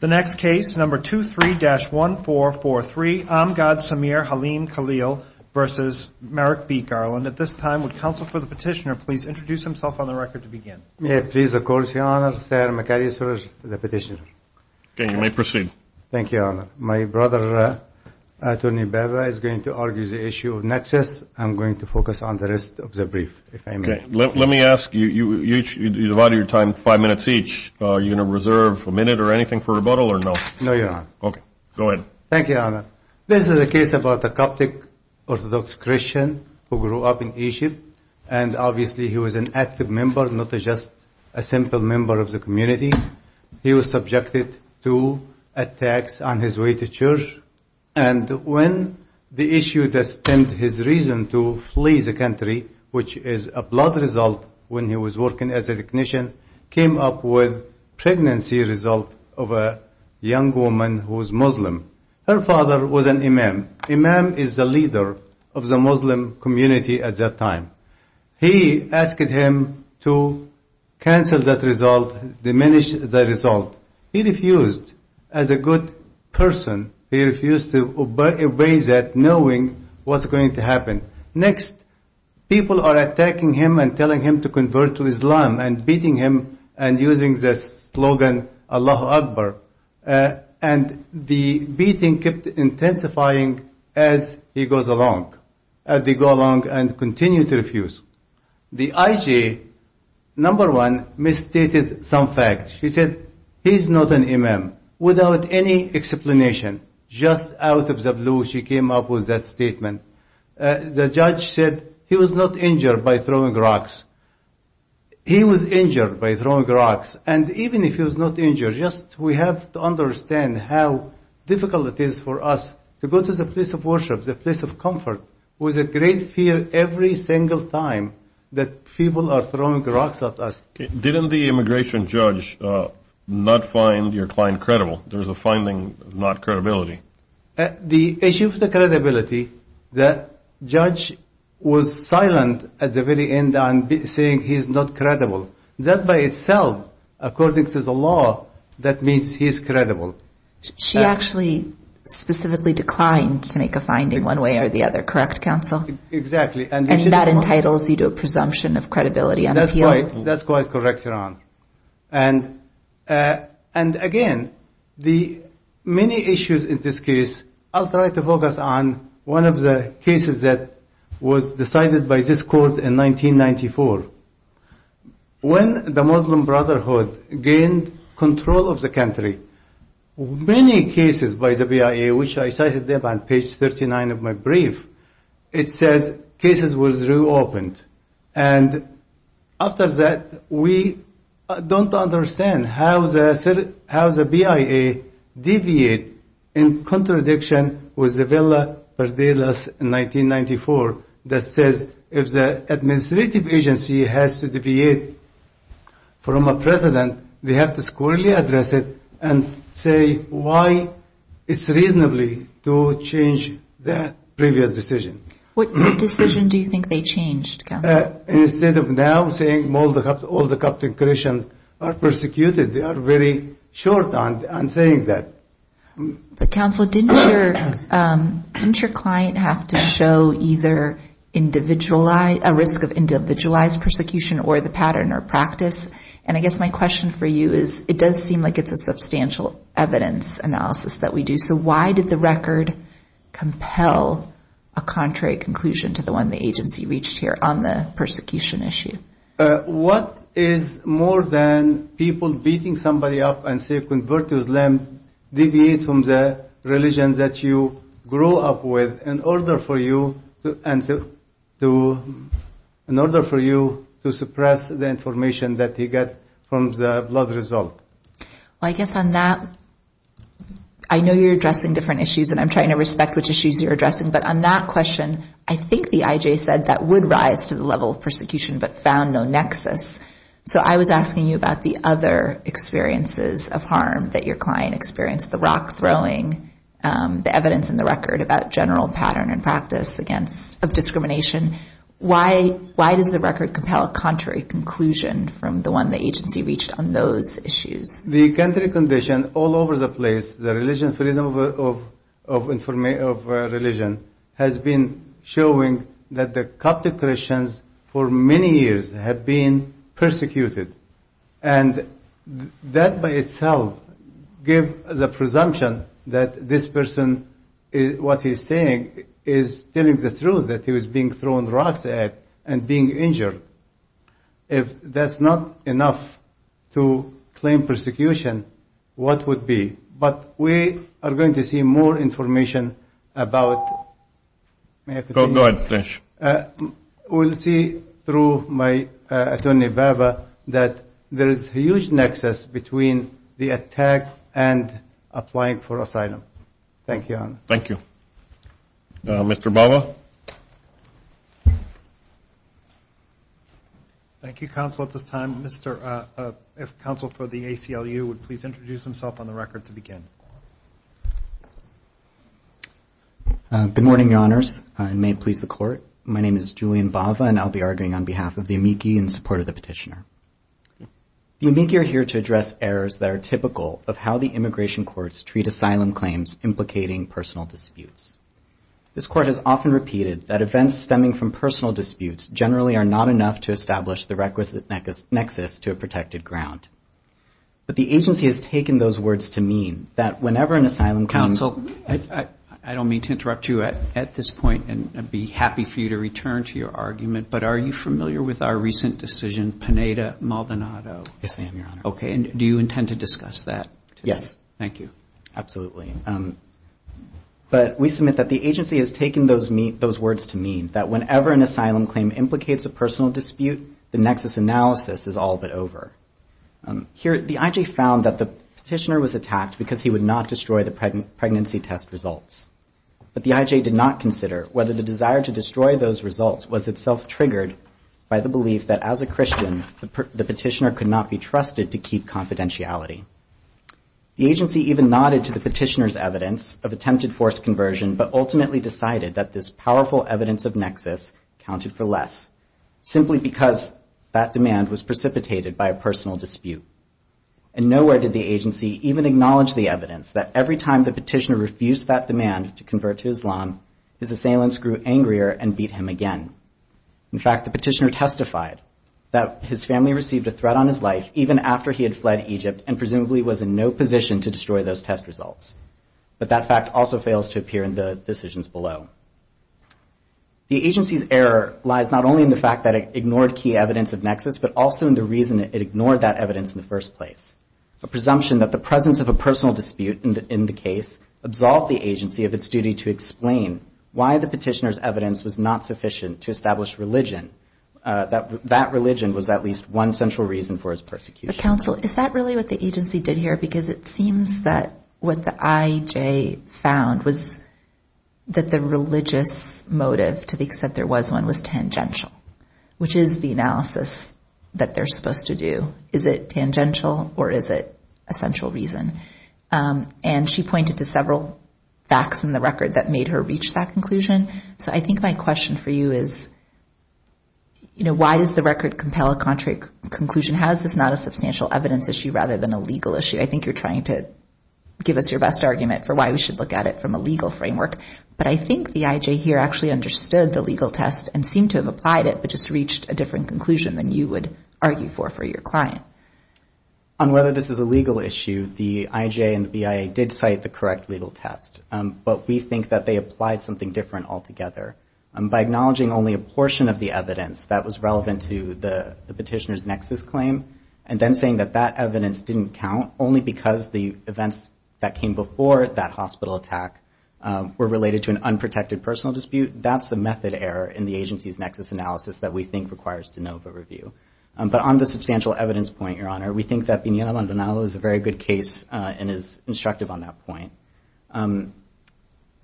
The next case, number 23-1443, Amgad Sameer Haleem Khalil v. Merrick B. Garland. At this time, would counsel for the petitioner please introduce himself on the record to begin? Yes, please, of course, Your Honor. I'm the petitioner. Okay, you may proceed. Thank you, Your Honor. My brother, Tony Bebba, is going to argue the issue of nexus. I'm going to focus on the rest of the brief, if I may. Okay. Let me ask you, you divide your time five minutes each. Are you going to reserve a minute or anything for rebuttal or no? No, Your Honor. Okay, go ahead. Thank you, Your Honor. This is a case about a Coptic Orthodox Christian who grew up in Egypt, and obviously he was an active member, not just a simple member of the community. He was subjected to attacks on his way to church, and when the issue that stemmed his reason to flee the country, which is a blood result when he was working as a technician, came up with pregnancy result of a young woman who was Muslim. Her father was an imam. Imam is the leader of the Muslim community at that time. He asked him to cancel that result, diminish the result. He refused. As a good person, he refused to obey that, knowing what's going to happen. Next, people are attacking him and telling him to convert to Islam and beating him and using the slogan, Allahu Akbar, and the beating kept intensifying as he goes along and continued to refuse. The IJ, number one, misstated some facts. She said, he's not an imam, without any explanation. Just out of the blue, she came up with that statement. The judge said he was not injured by throwing rocks. He was injured by throwing rocks, and even if he was not injured, just we have to understand how difficult it is for us to go to the place of worship, the place of comfort, with a great fear every single time that people are throwing rocks at us. Didn't the immigration judge not find your client credible? There was a finding of not credibility. The issue of the credibility, the judge was silent at the very end on saying he is not credible. That by itself, according to the law, that means he is credible. She actually specifically declined to make a finding one way or the other, correct, counsel? Exactly. And that entitles you to a presumption of credibility on appeal? That's quite correct, Your Honor. And again, the many issues in this case, I'll try to focus on one of the cases that was decided by this court in 1994. When the Muslim Brotherhood gained control of the country, many cases by the BIA, which I cited there on page 39 of my brief, it says cases were reopened. And after that, we don't understand how the BIA deviated in contradiction with the Villa Verdelas in 1994 that says if the administrative agency has to deviate from a precedent, they have to squarely address it and say why it's reasonable to change that previous decision. What decision do you think they changed, counsel? Instead of now saying all the captive Christians are persecuted, they are very short on saying that. But, counsel, didn't your client have to show either individualized, a risk of individualized persecution or the pattern or practice? And I guess my question for you is it does seem like it's a substantial evidence analysis that we do. So why did the record compel a contrary conclusion to the one the agency reached here on the persecution issue? What is more than people beating somebody up and say convert to Islam, deviate from the religion that you grew up with in order for you to suppress the information that you get from the blood result? Well, I guess on that, I know you're addressing different issues, and I'm trying to respect which issues you're addressing. But on that question, I think the IJ said that would rise to the level of persecution but found no nexus. So I was asking you about the other experiences of harm that your client experienced, the rock throwing, the evidence in the record about general pattern and practice of discrimination. Why does the record compel a contrary conclusion from the one the agency reached on those issues? The country condition all over the place, the religion freedom of religion, has been showing that the Catholic Christians for many years have been persecuted. And that by itself gives the presumption that this person, what he's saying, is telling the truth that he was being thrown rocks at and being injured. If that's not enough to claim persecution, what would be? But we are going to see more information about. Go ahead, please. We'll see through my attorney, Baba, that there is a huge nexus between the attack and applying for asylum. Thank you, Your Honor. Thank you. Mr. Baba? Thank you, Counsel, at this time. If Counsel for the ACLU would please introduce himself on the record to begin. Good morning, Your Honors, and may it please the Court. My name is Julian Baba, and I'll be arguing on behalf of the amici in support of the petitioner. The amici are here to address errors that are typical of how the immigration courts treat asylum claims implicating personal disputes. This Court has often repeated that events stemming from personal disputes generally are not enough to establish the requisite nexus to a protected ground. But the agency has taken those words to mean that whenever an asylum claim is- Counsel, I don't mean to interrupt you at this point, and I'd be happy for you to return to your argument, but are you familiar with our recent decision, Pineda-Maldonado? Yes, I am, Your Honor. Okay, and do you intend to discuss that today? Yes. Thank you. Absolutely. But we submit that the agency has taken those words to mean that whenever an asylum claim implicates a personal dispute, the nexus analysis is all but over. Here, the IJ found that the petitioner was attacked because he would not destroy the pregnancy test results. But the IJ did not consider whether the desire to destroy those results was itself triggered by the belief that as a Christian, the petitioner could not be trusted to keep confidentiality. The agency even nodded to the petitioner's evidence of attempted forced conversion but ultimately decided that this powerful evidence of nexus counted for less simply because that demand was precipitated by a personal dispute. And nowhere did the agency even acknowledge the evidence that every time the petitioner refused that demand to convert to Islam, his assailants grew angrier and beat him again. In fact, the petitioner testified that his family received a threat on his life even after he had fled Egypt and presumably was in no position to destroy those test results. But that fact also fails to appear in the decisions below. The agency's error lies not only in the fact that it ignored key evidence of nexus but also in the reason it ignored that evidence in the first place, a presumption that the presence of a personal dispute in the case absolved the agency of its duty to explain why the petitioner's evidence was not sufficient to establish religion, that religion was at least one central reason for his persecution. But counsel, is that really what the agency did here? Because it seems that what the IJ found was that the religious motive, to the extent there was one, was tangential, which is the analysis that they're supposed to do. Is it tangential or is it a central reason? And she pointed to several facts in the record that made her reach that conclusion. So I think my question for you is, you know, why does the record compel a contrary conclusion? How is this not a substantial evidence issue rather than a legal issue? I think you're trying to give us your best argument for why we should look at it from a legal framework. But I think the IJ here actually understood the legal test and seemed to have applied it but just reached a different conclusion than you would argue for for your client. On whether this is a legal issue, the IJ and the BIA did cite the correct legal test. But we think that they applied something different altogether. By acknowledging only a portion of the evidence that was relevant to the petitioner's nexus claim and then saying that that evidence didn't count only because the events that came before that hospital attack were related to an unprotected personal dispute, that's a method error in the agency's nexus analysis that we think requires de novo review. But on the substantial evidence point, Your Honor, we think that Piniella Maldonado is a very good case and is instructive on that point.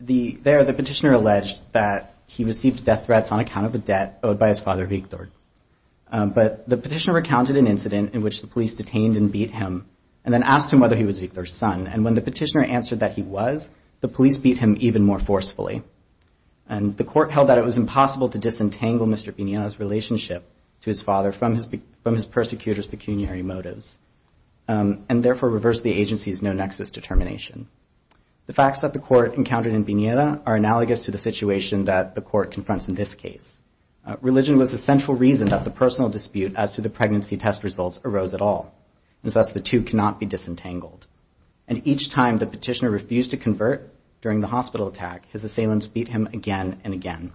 There, the petitioner alleged that he received death threats on account of a debt owed by his father, Victor. But the petitioner recounted an incident in which the police detained and beat him and then asked him whether he was Victor's son. And when the petitioner answered that he was, the police beat him even more forcefully. And the court held that it was impossible to disentangle Mr. Piniella's relationship to his father from his persecutor's pecuniary motives and therefore reversed the agency's no-nexus determination. The facts that the court encountered in Piniella are analogous to the situation that the court confronts in this case. Religion was the central reason that the personal dispute as to the pregnancy test results arose at all, and thus the two cannot be disentangled. And each time the petitioner refused to convert during the hospital attack, his assailants beat him again and again.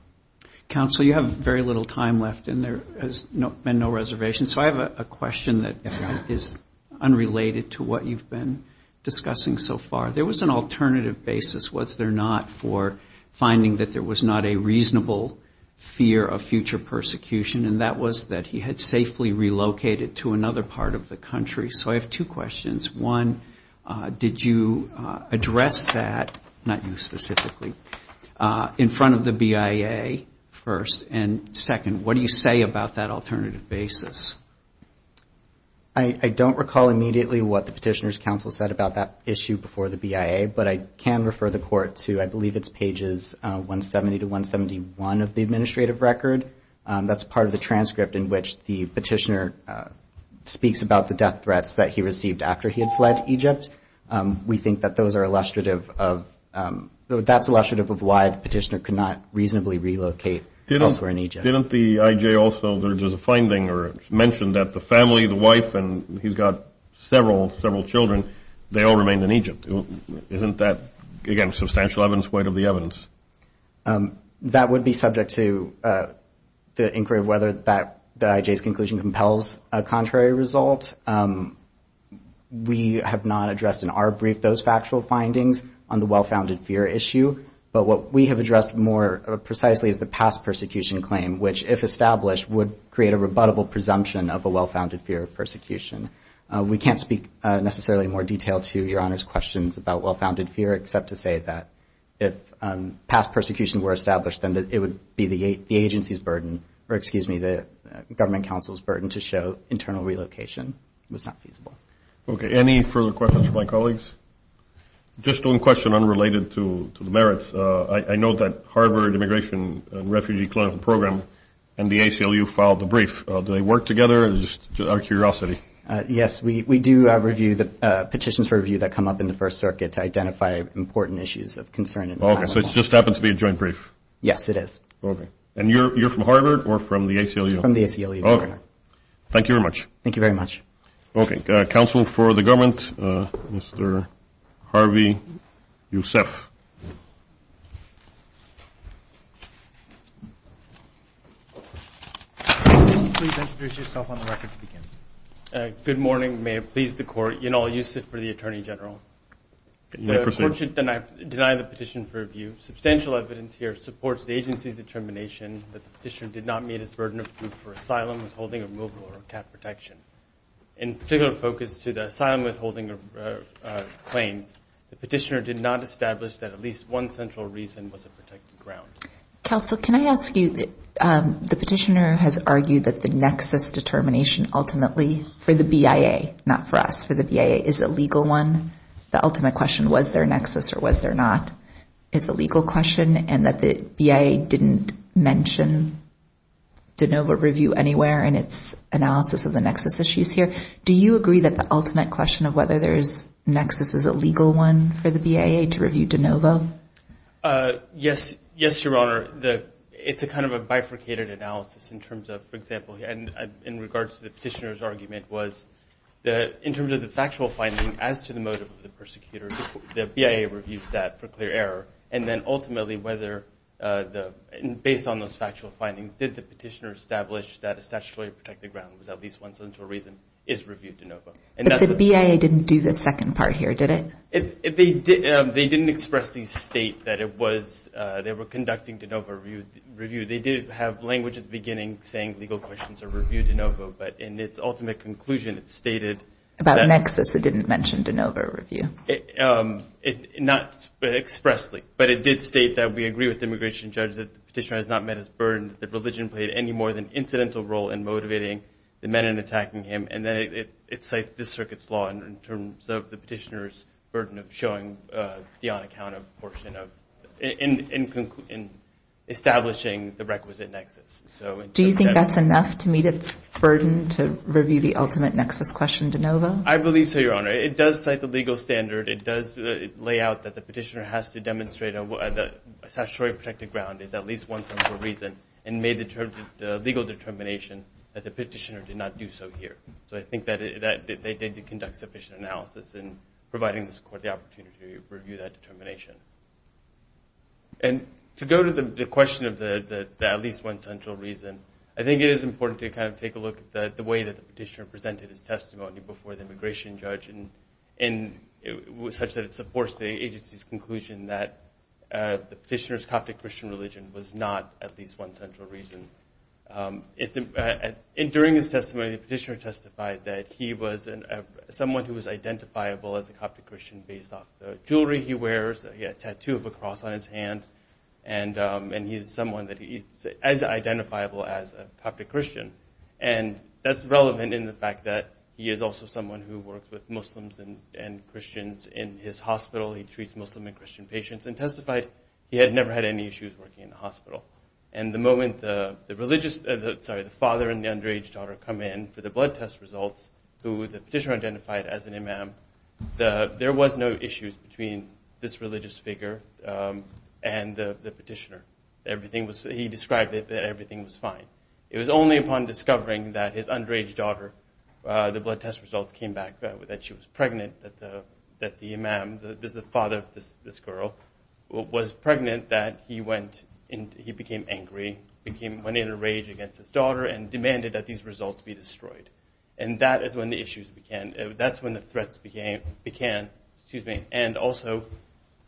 Counsel, you have very little time left and there has been no reservation, so I have a question that is unrelated to what you've been discussing so far. There was an alternative basis, was there not, for finding that there was not a reasonable fear of future persecution, and that was that he had safely relocated to another part of the country. So I have two questions. One, did you address that, not you specifically, in front of the BIA first? And second, what do you say about that alternative basis? I don't recall immediately what the petitioner's counsel said about that issue before the BIA, but I can refer the court to, I believe it's pages 170 to 171 of the administrative record. That's part of the transcript in which the petitioner speaks about the death threats that he received after he had fled Egypt. We think that those are illustrative of, that's illustrative of why the petitioner could not reasonably relocate elsewhere in Egypt. Didn't the IJ also, there's a finding or mention that the family, the wife, and he's got several children, they all remained in Egypt. That would be subject to the inquiry of whether the IJ's conclusion compels a contrary result. We have not addressed in our brief those factual findings on the well-founded fear issue, but what we have addressed more precisely is the past persecution claim, which if established would create a rebuttable presumption of a well-founded fear of persecution. We can't speak necessarily in more detail to Your Honor's questions about well-founded fear, except to say that if past persecution were established, then it would be the agency's burden, or excuse me, the government counsel's burden to show internal relocation was not feasible. Okay. Any further questions from my colleagues? Just one question unrelated to the merits. I know that Harvard Immigration and Refugee Clinical Program and the ACLU filed a brief. Do they work together? Just out of curiosity. Yes. We do review the petitions for review that come up in the First Circuit to identify important issues of concern. Okay. So it just happens to be a joint brief? Yes, it is. Okay. And you're from Harvard or from the ACLU? From the ACLU, Your Honor. Okay. Thank you very much. Thank you very much. Okay. Counsel for the government, Mr. Harvey Youssef. Mr. Youssef, please introduce yourself on the record to begin. Good morning. May it please the Court. Younal Youssef for the Attorney General. Good morning, Prosecutor. The Court should deny the petition for review. Substantial evidence here supports the agency's determination that the petitioner did not meet his burden of proof for asylum, withholding, removal, or cat protection. In particular focus to the asylum withholding claims, the petitioner did not establish that at least one central reason was a protected ground. Counsel, can I ask you, the petitioner has argued that the nexus determination ultimately for the BIA, not for us, for the BIA, is a legal one. The ultimate question, was there a nexus or was there not, is a legal question, and that the BIA didn't mention de novo review anywhere in its analysis of the nexus issues here. Do you agree that the ultimate question of whether there is nexus is a legal one for the BIA to review de novo? Yes, Your Honor. It's a kind of a bifurcated analysis in terms of, for example, in regards to the petitioner's argument was in terms of the factual finding as to the motive of the persecutor, the BIA reviews that for clear error, and then ultimately whether based on those factual findings, did the petitioner establish that a statutorily protected ground that was at least one central reason is reviewed de novo. But the BIA didn't do the second part here, did it? They didn't expressly state that they were conducting de novo review. They did have language at the beginning saying legal questions are reviewed de novo, but in its ultimate conclusion it stated that. About nexus, it didn't mention de novo review. Not expressly, but it did state that we agree with the immigration judge that the petitioner has not met his burden, that religion played any more than an incidental role in motivating the men in attacking him, and then it cites this circuit's law in terms of the petitioner's burden of showing the unaccounted portion of establishing the requisite nexus. Do you think that's enough to meet its burden to review the ultimate nexus question de novo? I believe so, Your Honor. It does cite the legal standard. It does lay out that the petitioner has to demonstrate a statutory protected ground is at least one central reason and made the legal determination that the petitioner did not do so here. So I think that they did conduct sufficient analysis in providing this court the opportunity to review that determination. And to go to the question of the at least one central reason, I think it is important to kind of take a look at the way that the petitioner presented his testimony before the immigration judge such that it supports the agency's conclusion that the petitioner's belief in a Coptic Christian religion was not at least one central reason. During his testimony, the petitioner testified that he was someone who was identifiable as a Coptic Christian based off the jewelry he wears, he had a tattoo of a cross on his hand, and he is someone that is as identifiable as a Coptic Christian. And that's relevant in the fact that he is also someone who works with Muslims and Christians in his hospital. He treats Muslim and Christian patients and testified he had never had any issues working in the hospital. And the moment the father and the underage daughter come in for the blood test results, who the petitioner identified as an imam, there was no issues between this religious figure and the petitioner. He described that everything was fine. It was only upon discovering that his underage daughter, the blood test results came back that she was pregnant, that the imam, the father of this girl, was pregnant that he went and he became angry, went in a rage against his daughter and demanded that these results be destroyed. And that is when the issues began. That's when the threats began. And also,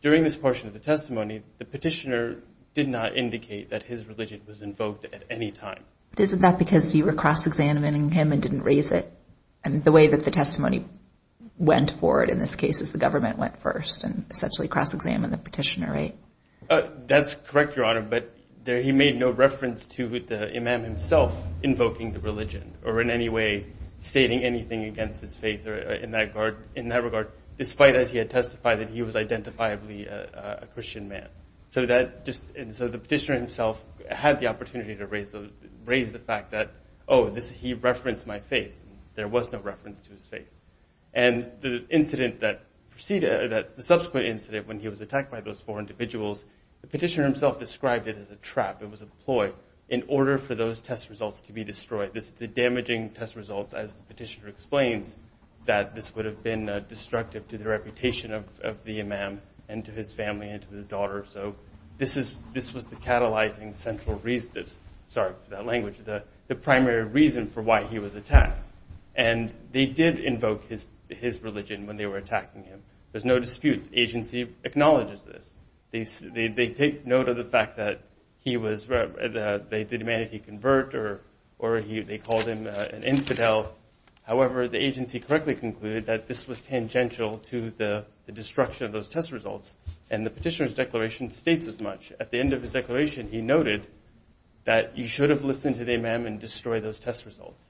during this portion of the testimony, the petitioner did not indicate that his religion was invoked at any time. Isn't that because you were cross-examining him and didn't raise it? And the way that the testimony went forward in this case is the government went first and essentially cross-examined the petitioner, right? That's correct, Your Honor, but he made no reference to the imam himself invoking the religion or in any way stating anything against his faith in that regard, despite as he had testified that he was identifiably a Christian man. So the petitioner himself had the opportunity to raise the fact that, oh, he referenced my faith. There was no reference to his faith. And the subsequent incident when he was attacked by those four individuals, the petitioner himself described it as a trap, it was a ploy, in order for those test results to be destroyed. The damaging test results, as the petitioner explains, that this would have been destructive to the reputation of the imam and to his family and to his daughter. So this was the catalyzing central reason, sorry for that language, the primary reason for why he was attacked. And they did invoke his religion when they were attacking him. There's no dispute. The agency acknowledges this. They take note of the fact that he was, they demanded he convert or they called him an infidel. However, the agency correctly concluded that this was tangential to the destruction of those test results. And the petitioner's declaration states as much. At the end of his declaration, he noted that you should have listened to the imam and destroyed those test results.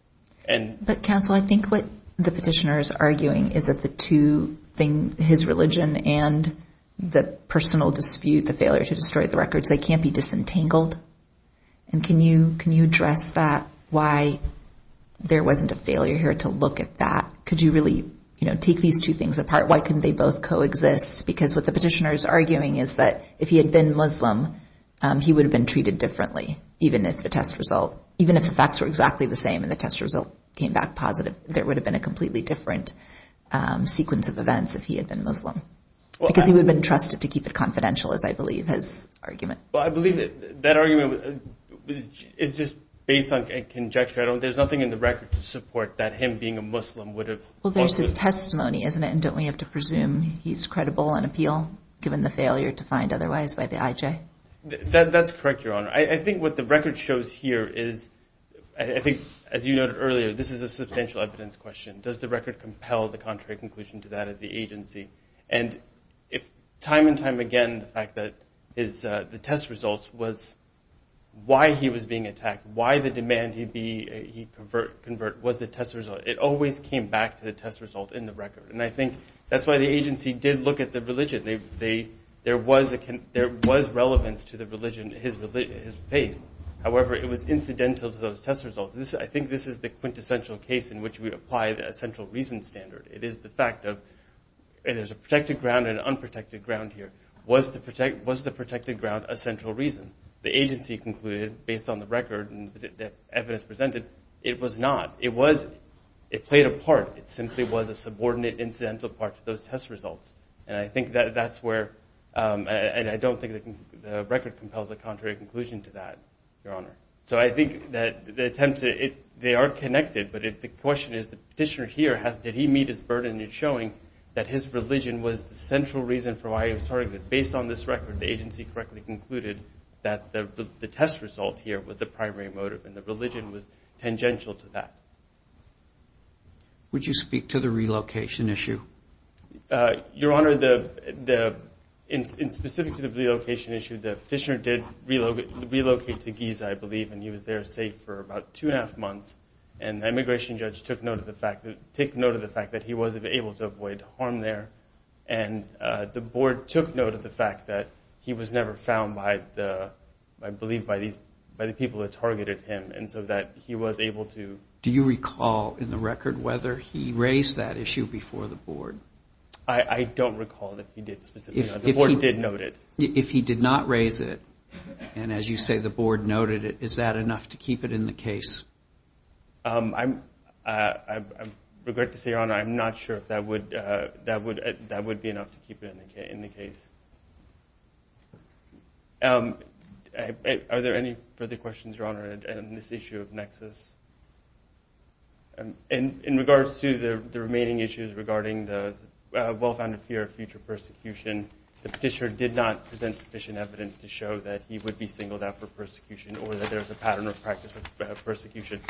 But, counsel, I think what the petitioner is arguing is that the two things, his religion and the personal dispute, the failure to destroy the records, they can't be disentangled. And can you address that, why there wasn't a failure here to look at that? Could you really take these two things apart? Why couldn't they both coexist? Because what the petitioner is arguing is that if he had been Muslim, he would have been treated differently, even if the facts were exactly the same and the test result came back positive. There would have been a completely different sequence of events if he had been Muslim. Because he would have been trusted to keep it confidential, as I believe his argument. Well, I believe that argument is just based on conjecture. There's nothing in the record to support that him being a Muslim would have. Well, there's his testimony, isn't it? And don't we have to presume he's credible on appeal, given the failure to find otherwise by the IJ? That's correct, Your Honor. I think what the record shows here is, I think, as you noted earlier, this is a substantial evidence question. Does the record compel the contrary conclusion to that of the agency? And time and time again, the fact that the test results was why he was being attacked, why the demand he convert was the test result. It always came back to the test result in the record. And I think that's why the agency did look at the religion. There was relevance to the religion, his faith. However, it was incidental to those test results. I think this is the quintessential case in which we apply a central reason standard. It is the fact of there's a protected ground and an unprotected ground here. Was the protected ground a central reason? The agency concluded, based on the record and the evidence presented, it was not. It played a part. It simply was a subordinate incidental part to those test results. And I don't think the record compels a contrary conclusion to that, Your Honor. So I think that the attempt to – they are connected. But the question is, the petitioner here, did he meet his burden in showing that his religion was the central reason for why he was targeted? Based on this record, the agency correctly concluded that the test result here was the primary motive, and the religion was tangential to that. Would you speak to the relocation issue? Your Honor, in specific to the relocation issue, the petitioner did relocate to Giza, I believe, and he was there safe for about two and a half months. And the immigration judge took note of the fact that he wasn't able to avoid harm there. And the board took note of the fact that he was never found, I believe, by the people that targeted him, and so that he was able to. Do you recall in the record whether he raised that issue before the board? I don't recall that he did specifically. The board did note it. If he did not raise it, and as you say, the board noted it, is that enough to keep it in the case? I regret to say, Your Honor, I'm not sure if that would be enough to keep it in the case. Are there any further questions, Your Honor, on this issue of nexus? In regards to the remaining issues regarding the well-founded fear of future persecution, the petitioner did not present sufficient evidence to show that he would be singled out for persecution or that there's a pattern or practice of persecution.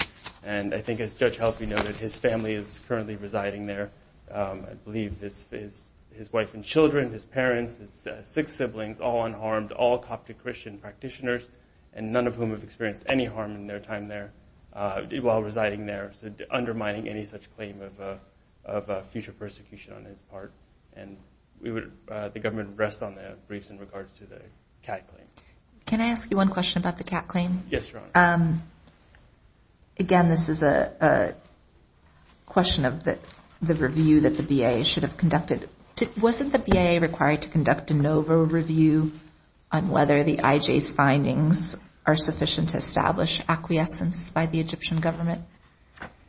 And I think, as Judge Helphy noted, his family is currently residing there. I believe his wife and children, his parents, his six siblings, all unharmed, all Coptic Christian practitioners, and none of whom have experienced any harm in their time there, while residing there, undermining any such claim of future persecution on his part. And the government would rest on their briefs in regards to the Catt claim. Can I ask you one question about the Catt claim? Yes, Your Honor. Again, this is a question of the review that the BIA should have conducted. Wasn't the BIA required to conduct a NOVA review on whether the IJ's findings are sufficient to establish acquiescence by the Egyptian government?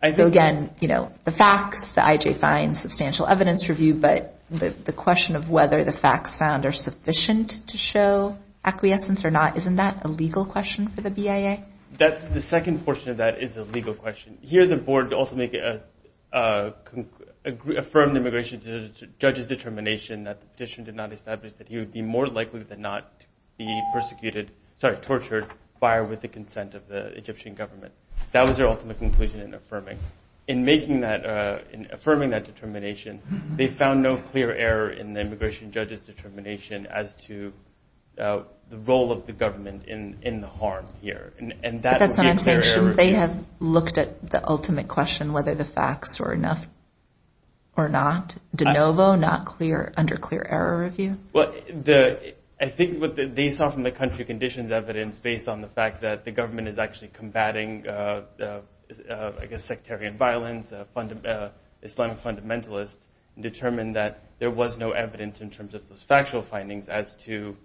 So again, you know, the facts, the IJ finds, substantial evidence review, but the question of whether the facts found are sufficient to show acquiescence or not, isn't that a legal question for the BIA? The second portion of that is a legal question. Here the board also affirmed the immigration judge's determination that the petition did not establish that he would be more likely than not to be persecuted, sorry, tortured, by or with the consent of the Egyptian government. That was their ultimate conclusion in affirming. In affirming that determination, they found no clear error in the immigration judge's determination as to the role of the government in the harm here. That's what I'm saying. Shouldn't they have looked at the ultimate question, whether the facts were enough or not, de novo, not clear, under clear error review? I think what they saw from the country conditions evidence based on the fact that the government is actually combating, I guess, sectarian violence, Islamic fundamentalists, determined that there was no evidence in terms of factual findings as to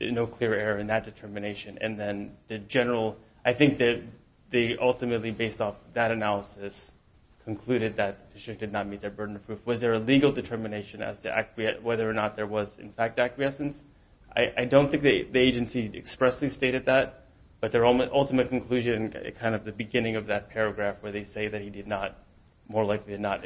no clear error in that determination. And then the general, I think that they ultimately, based off that analysis, concluded that the petition did not meet their burden of proof. Was there a legal determination as to whether or not there was, in fact, acquiescence? I don't think the agency expressly stated that, but their ultimate conclusion, kind of the beginning of that paragraph where they say that he did not, more likely did not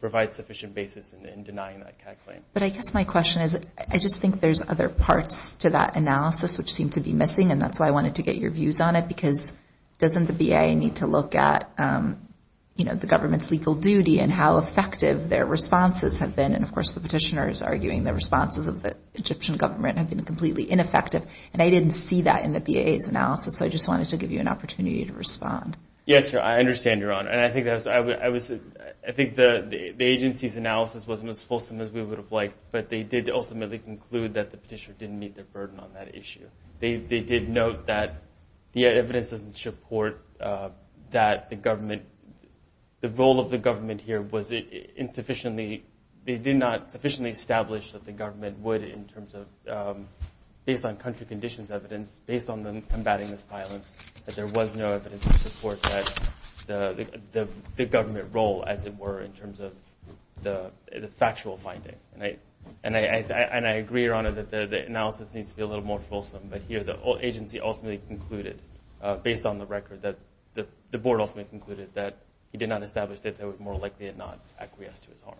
provide sufficient basis in denying that claim. But I guess my question is, I just think there's other parts to that analysis which seem to be missing, and that's why I wanted to get your views on it, because doesn't the BAA need to look at, you know, the government's legal duty and how effective their responses have been? And, of course, the petitioner is arguing the responses of the Egyptian government have been completely ineffective, and I didn't see that in the BAA's analysis. So I just wanted to give you an opportunity to respond. Yes, I understand, Your Honor. And I think the agency's analysis wasn't as fulsome as we would have liked, but they did ultimately conclude that the petitioner didn't meet their burden on that issue. They did note that the evidence doesn't support that the government, the role of the government here was insufficiently, they did not sufficiently establish that the government would, based on country conditions evidence, based on them combating this violence, that there was no evidence to support the government role as it were in terms of the factual finding. And I agree, Your Honor, that the analysis needs to be a little more fulsome, but here the agency ultimately concluded, based on the record, that the board ultimately concluded that he did not establish that they were more likely to not acquiesce to his harm.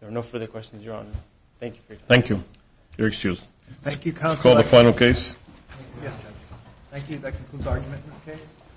There are no further questions, Your Honor. Thank you for your time. Thank you. You're excused. Thank you, Counsel. Let's call the final case. Thank you. That concludes argument in this case.